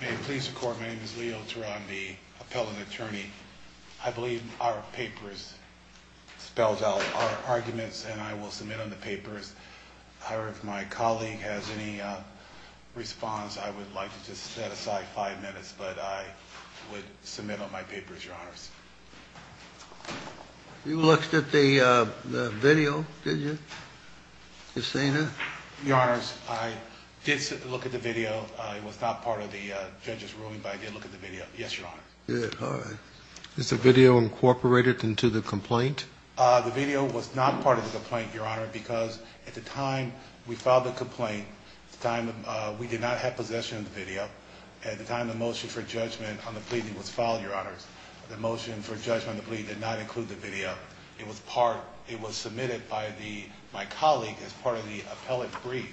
May it please the court, my name is Leo Teran, the appellant attorney. I believe our papers spelled out our arguments and I will submit on the papers. However, if my colleague has any response, I would like to just set aside five minutes, but I would submit on my papers, your honors. You looked at the video, did you? You seen it? Your honors, I did look at the video. It was not part of the judge's ruling, but I did look at the video. Yes, your honor. Is the video incorporated into the complaint? The video was not part of the complaint, your honor, because at the time we filed the complaint, we did not have possession of the video. At the time the motion for judgment on the plea was filed, your honors, the motion for judgment on the plea did not include the video. It was submitted by my colleague as part of the appellate brief,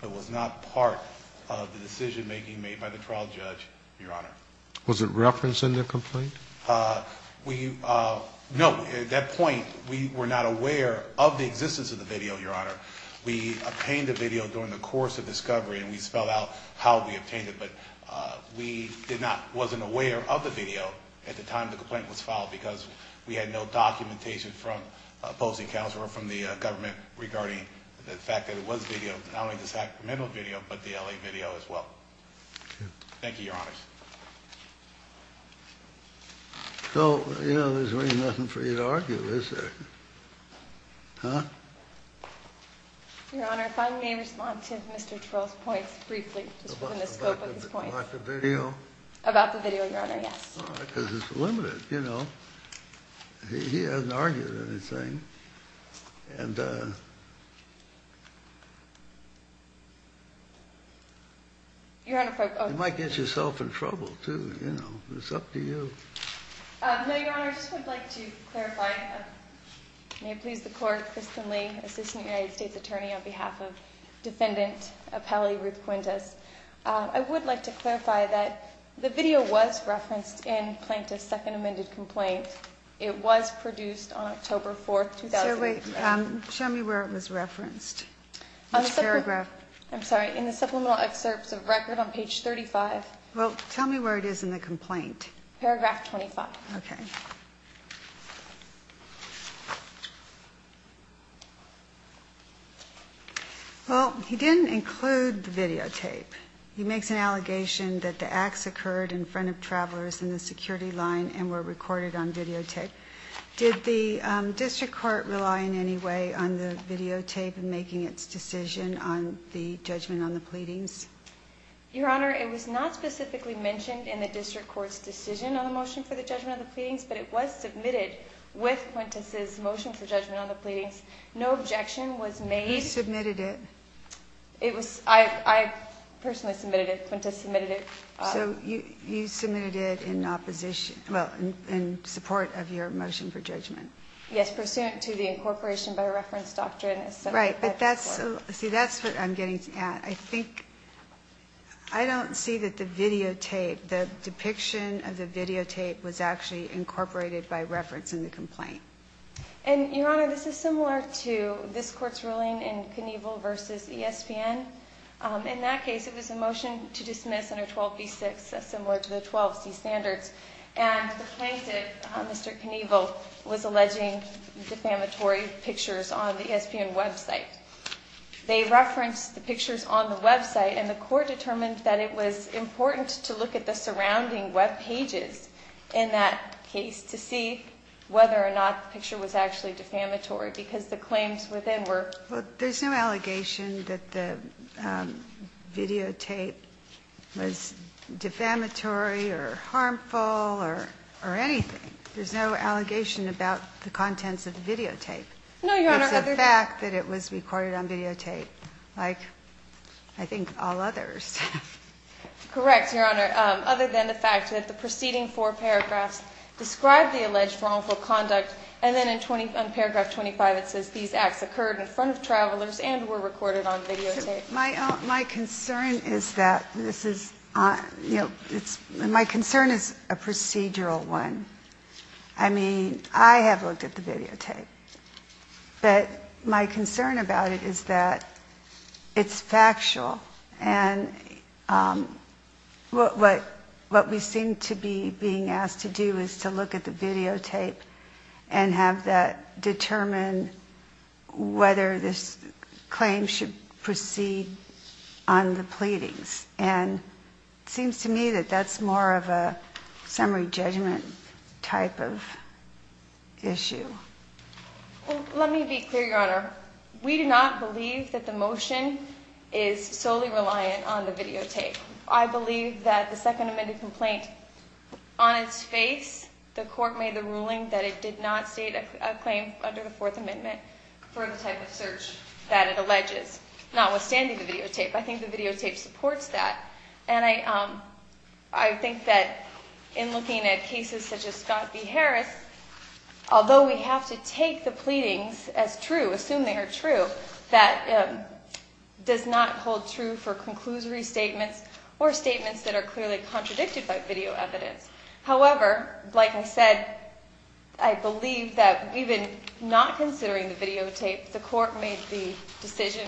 but was not part of the decision making made by the trial judge, your honor. Was it referenced in the complaint? No, at that point we were not aware of the existence of the video, your honor. We obtained the video during the course of discovery and we spelled out how we obtained it, but we wasn't aware of the video at the time the complaint was filed because we had no documentation from opposing counsel or from the government regarding the fact that it was video, not only the Sacramento video, but the L.A. video as well. Thank you, your honors. So, you know, there's really nothing for you to argue, is there? Huh? Your honor, if I may respond to Mr. Terrell's points briefly, just within the scope of his points. About the video? About the video, your honor, yes. Because it's limited, you know. He hasn't argued anything. And you might get yourself in trouble, too. You know, it's up to you. No, your honor, I just would like to clarify. May it please the court, Kristen Lee, assistant United States attorney on behalf of defendant appellee Ruth Quintus. I would like to clarify that the video was referenced in Plaintiff's second amended complaint. It was produced on October 4th, 2005. Show me where it was referenced. I'm sorry, in the supplemental excerpts of record on page 35. Well, tell me where it is in the complaint. Paragraph 25. Okay. Well, he didn't include the videotape. He makes an allegation that the acts occurred in front of travelers in the security line and were recorded on videotape. Did the district court rely in any way on the videotape in making its decision on the judgment on the pleadings? Your honor, it was not specifically mentioned in the district court's decision on the motion for the judgment on the pleadings, but it was submitted with Quintus's motion for judgment on the pleadings. No objection was made. Who submitted it? I personally submitted it. Quintus submitted it. So you submitted it in opposition, well, in support of your motion for judgment. Yes, pursuant to the incorporation by reference doctrine. Right, but that's what I'm getting at. I think, I don't see that the videotape, the depiction of the videotape was actually incorporated by reference in the complaint. And, your honor, this is similar to this court's ruling in Knievel v. ESPN. In that case, it was a motion to dismiss under 12b-6, similar to the 12c standards, and the plaintiff, Mr. Knievel, was alleging defamatory pictures on the ESPN website. They referenced the pictures on the website, and the court determined that it was important to look at the surrounding webpages in that case to see whether or not the picture was actually defamatory, because the claims within were. Well, there's no allegation that the videotape was defamatory or harmful or anything. There's no allegation about the contents of the videotape. No, your honor. Except for the fact that it was recorded on videotape, like I think all others. Correct, your honor. Other than the fact that the preceding four paragraphs describe the alleged wrongful conduct, and then in paragraph 25 it says these acts occurred in front of travelers and were recorded on videotape. My concern is that this is, you know, my concern is a procedural one. I mean, I have looked at the videotape, but my concern about it is that it's factual, and what we seem to be being asked to do is to look at the videotape and have that determine whether this claim should proceed on the pleadings, and it seems to me that that's more of a summary judgment type of issue. Well, let me be clear, your honor. We do not believe that the motion is solely reliant on the videotape. I believe that the Second Amendment complaint, on its face, the court made the ruling that it did not state a claim under the Fourth Amendment for the type of search that it alleges, notwithstanding the videotape. I think the videotape supports that. And I think that in looking at cases such as Scott v. Harris, although we have to take the pleadings as true, assume they are true, that does not hold true for conclusory statements or statements that are clearly contradicted by video evidence. However, like I said, I believe that even not considering the videotape, the court made the decision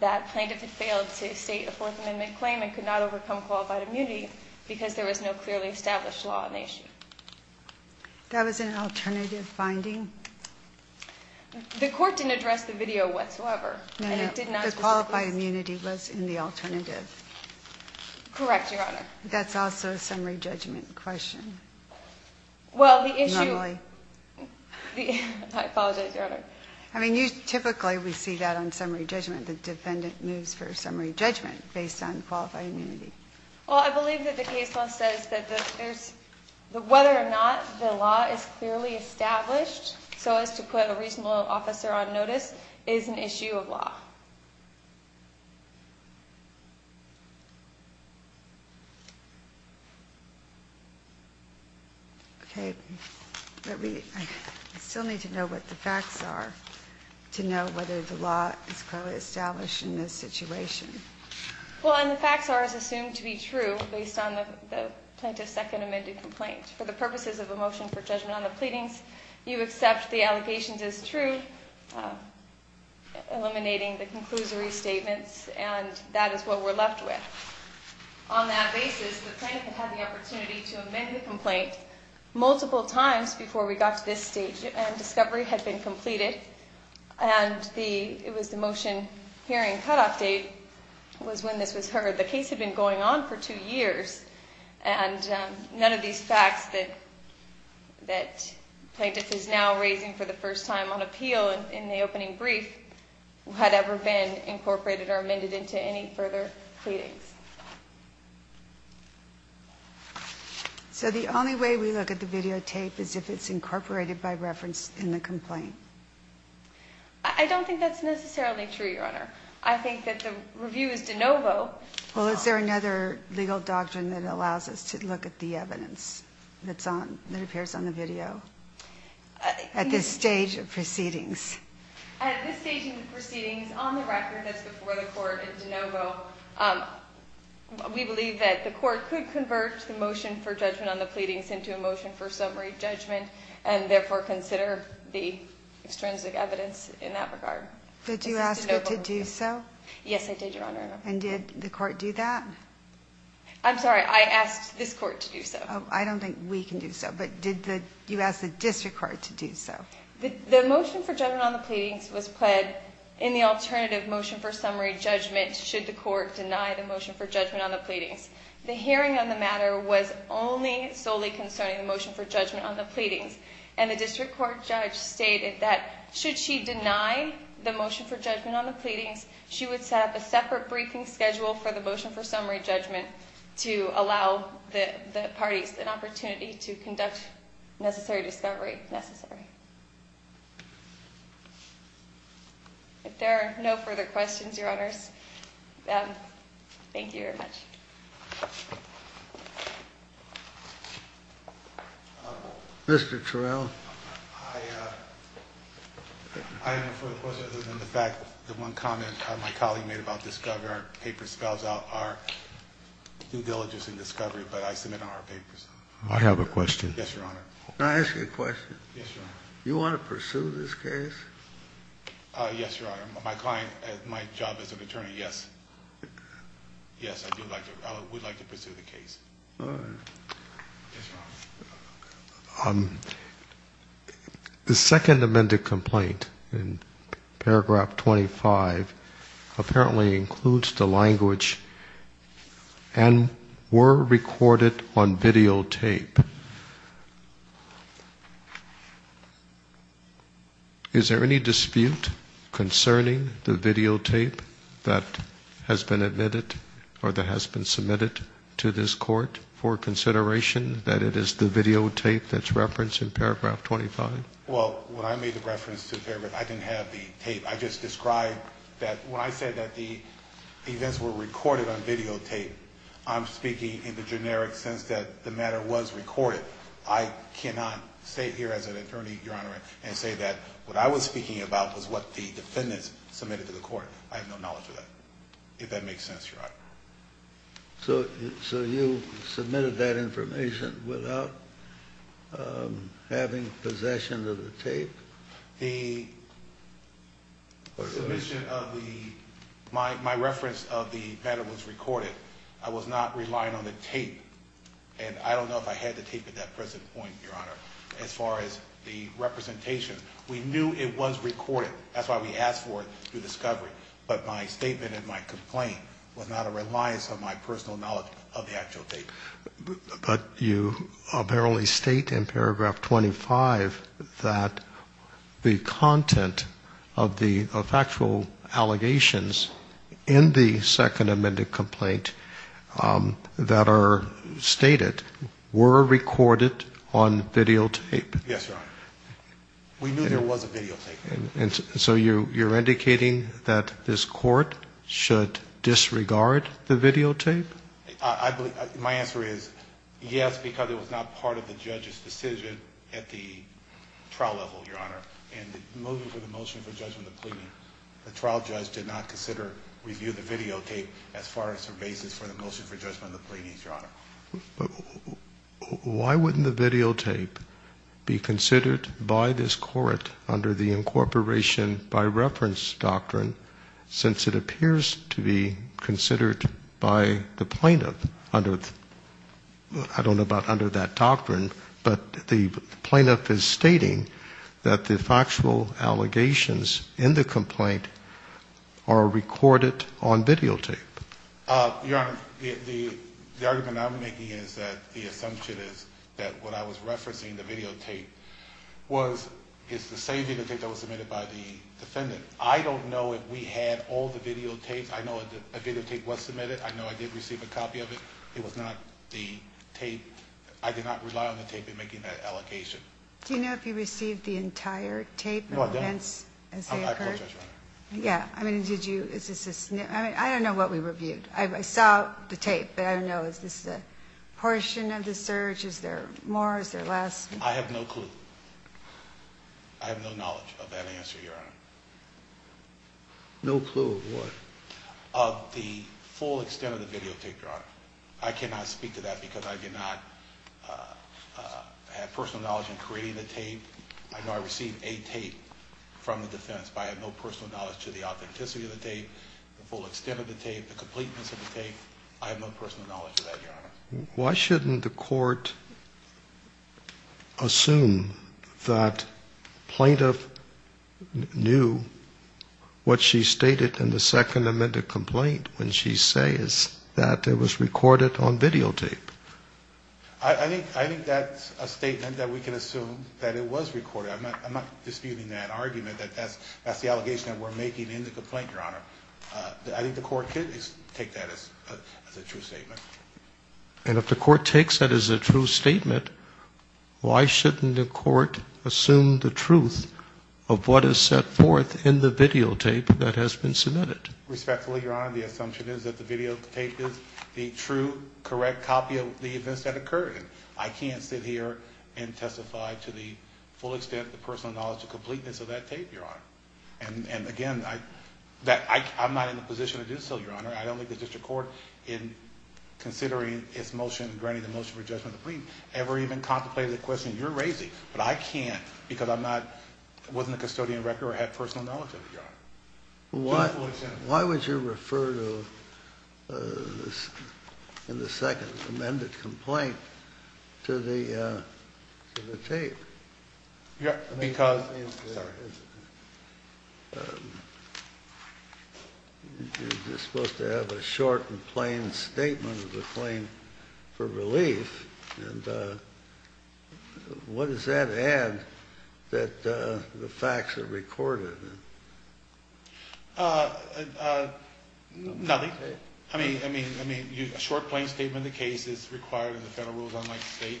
that plaintiff had failed to state a Fourth Amendment claim and could not overcome qualified immunity because there was no clearly established law on the issue. That was an alternative finding? The court didn't address the video whatsoever. No, no, the qualified immunity was in the alternative. Correct, your honor. That's also a summary judgment question. Normally. I apologize, your honor. I mean, typically we see that on summary judgment, the defendant moves for summary judgment based on qualified immunity. Well, I believe that the case law says that whether or not the law is clearly established so as to put a reasonable officer on notice is an issue of law. Okay, but we still need to know what the facts are to know whether the law is clearly established in this situation. Well, and the facts are assumed to be true based on the plaintiff's second amended complaint. For the purposes of a motion for judgment on the pleadings, you accept the allegations as true, eliminating the conclusory statements, and that is what we're left with. On that basis, the plaintiff had the opportunity to amend the complaint multiple times before we got to this stage, and discovery had been completed, and it was the motion hearing cutoff date was when this was heard. The case had been going on for two years, and none of these facts that the plaintiff is now raising for the first time on appeal in the opening brief had ever been incorporated or amended into any further pleadings. So the only way we look at the videotape is if it's incorporated by reference in the complaint? I don't think that's necessarily true, Your Honor. I think that the review is de novo. Well, is there another legal doctrine that allows us to look at the evidence that appears on the video at this stage of proceedings? At this stage of proceedings, on the record that's before the court in de novo, we believe that the court could convert the motion for judgment on the pleadings into a motion for summary judgment and therefore consider the extrinsic evidence in that regard. Did you ask it to do so? Yes, I did, Your Honor. And did the court do that? I'm sorry. I asked this court to do so. I don't think we can do so, but did you ask the district court to do so? The motion for judgment on the pleadings was pled in the alternative motion for summary judgment should the court deny the motion for judgment on the pleadings. The hearing on the matter was only solely concerning the motion for judgment on the pleadings, and the district court judge stated that should she deny the motion for judgment on the pleadings, she would set up a separate briefing schedule for the motion for summary judgment to allow the parties an opportunity to conduct necessary discovery necessary. If there are no further questions, Your Honors, thank you very much. Mr. Terrell. I have no further questions other than the fact that one comment my colleague made about our due diligence in discovery, but I submit on our papers. I have a question. Yes, Your Honor. Can I ask you a question? Yes, Your Honor. You want to pursue this case? Yes, Your Honor. My client, my job as an attorney, yes. Yes, I would like to pursue the case. All right. Yes, Your Honor. The second amended complaint in paragraph 25 apparently includes the language, and were recorded on videotape. Is there any dispute concerning the videotape that has been submitted to this court for consideration that it is the videotape that's referenced in paragraph 25? Well, when I made the reference to the paragraph, I didn't have the tape. I just described that when I said that the events were recorded on videotape, I'm speaking in the generic sense that the matter was recorded. I cannot stay here as an attorney, Your Honor, and say that what I was speaking about was what the defendants submitted to the court. I have no knowledge of that, if that makes sense, Your Honor. So you submitted that information without having possession of the tape? The submission of the – my reference of the matter was recorded. I was not relying on the tape, and I don't know if I had the tape at that present point, Your Honor, as far as the representation. We knew it was recorded. That's why we asked for it through discovery. But my statement in my complaint was not a reliance on my personal knowledge of the actual tape. But you apparently state in paragraph 25 that the content of the factual allegations in the Second Amendment complaint that are stated were recorded on videotape. Yes, Your Honor. We knew there was a videotape. And so you're indicating that this court should disregard the videotape? My answer is yes, because it was not part of the judge's decision at the trial level, Your Honor. And moving to the motion for judgment of the pleading, the trial judge did not consider review of the videotape as far as the basis for the motion for judgment of the pleadings, Your Honor. Why wouldn't the videotape be considered by this court under the incorporation by reference doctrine, since it appears to be considered by the plaintiff under the ‑‑ I don't know about under that doctrine, but the plaintiff is stating that the factual allegations in the complaint are recorded on videotape. Your Honor, the argument I'm making is that the assumption is that what I was referencing, the videotape, is the same videotape that was submitted by the defendant. I don't know if we had all the videotapes. I know a videotape was submitted. I know I did receive a copy of it. It was not the tape. I did not rely on the tape in making that allocation. Do you know if you received the entire tape? No, I don't. As they occurred? I apologize, Your Honor. Yeah. I mean, did you ‑‑ I don't know what we reviewed. I saw the tape, but I don't know, is this the portion of the search? Is there more? Is there less? I have no clue. I have no knowledge of that answer, Your Honor. No clue of what? Of the full extent of the videotape, Your Honor. I cannot speak to that because I did not have personal knowledge in creating the tape. I know I received a tape from the defense, but I have no personal knowledge to the authenticity of the tape, the full extent of the tape, the completeness of the tape. I have no personal knowledge of that, Your Honor. Why shouldn't the court assume that plaintiff knew what she stated in the Second Amendment complaint when she says that it was recorded on videotape? I think that's a statement that we can assume that it was recorded. I'm not disputing that argument. That's the allegation that we're making in the complaint, Your Honor. I think the court could take that as a true statement. And if the court takes that as a true statement, why shouldn't the court assume the truth of what is set forth in the videotape that has been submitted? Respectfully, Your Honor, the assumption is that the videotape is the true, correct copy of the events that occurred. I can't sit here and testify to the full extent, the personal knowledge, the completeness of that tape, Your Honor. And again, I'm not in a position to do so, Your Honor. I don't think the district court, in considering its motion, granting the motion for judgment of the plaintiff, ever even contemplated the question you're raising. But I can't because I'm not, wasn't a custodian of the record or had personal knowledge of it, Your Honor. Why would you refer to, in the second amended complaint, to the tape? Because... You're supposed to have a short and plain statement of the claim for relief. And what does that add that the facts are recorded? Nothing. I mean, a short, plain statement of the case is required in the federal rules, unlike the state.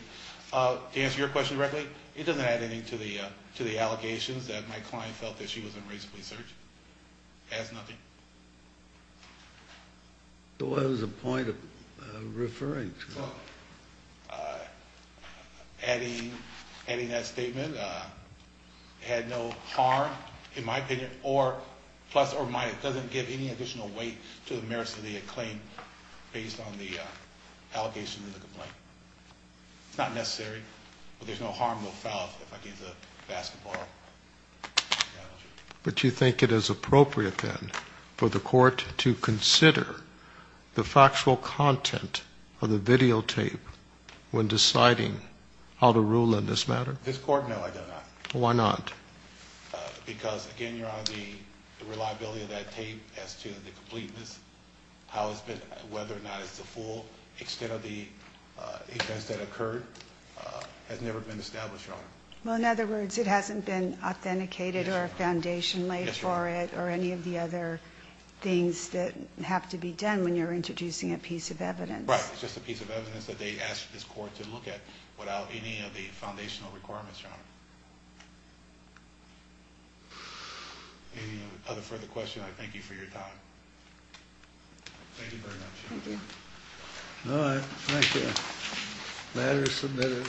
To answer your question directly, it doesn't add anything to the allegations that my client felt that she was unrighteously searched. It adds nothing. So what is the point of referring to that? Adding that statement had no harm, in my opinion, or plus or minus. It doesn't give any additional weight to the merits of the claim based on the allegations of the complaint. It's not necessary. But there's no harm or foul, if I can use a basketball analogy. But you think it is appropriate, then, for the court to consider the factual content of the videotape when deciding how to rule in this matter? This court, no, I do not. Why not? Because, again, Your Honor, the reliability of that tape as to the completeness, how it's been, whether or not it's the full extent of the events that occurred, has never been established, Your Honor. Well, in other words, it hasn't been authenticated or a foundation laid for it or any of the other things that have to be done when you're introducing a piece of evidence. Right, it's just a piece of evidence that they asked this court to look at without any of the foundational requirements, Your Honor. Any other further questions? I thank you for your time. Thank you very much. Thank you. All right, thank you. Matter is submitted.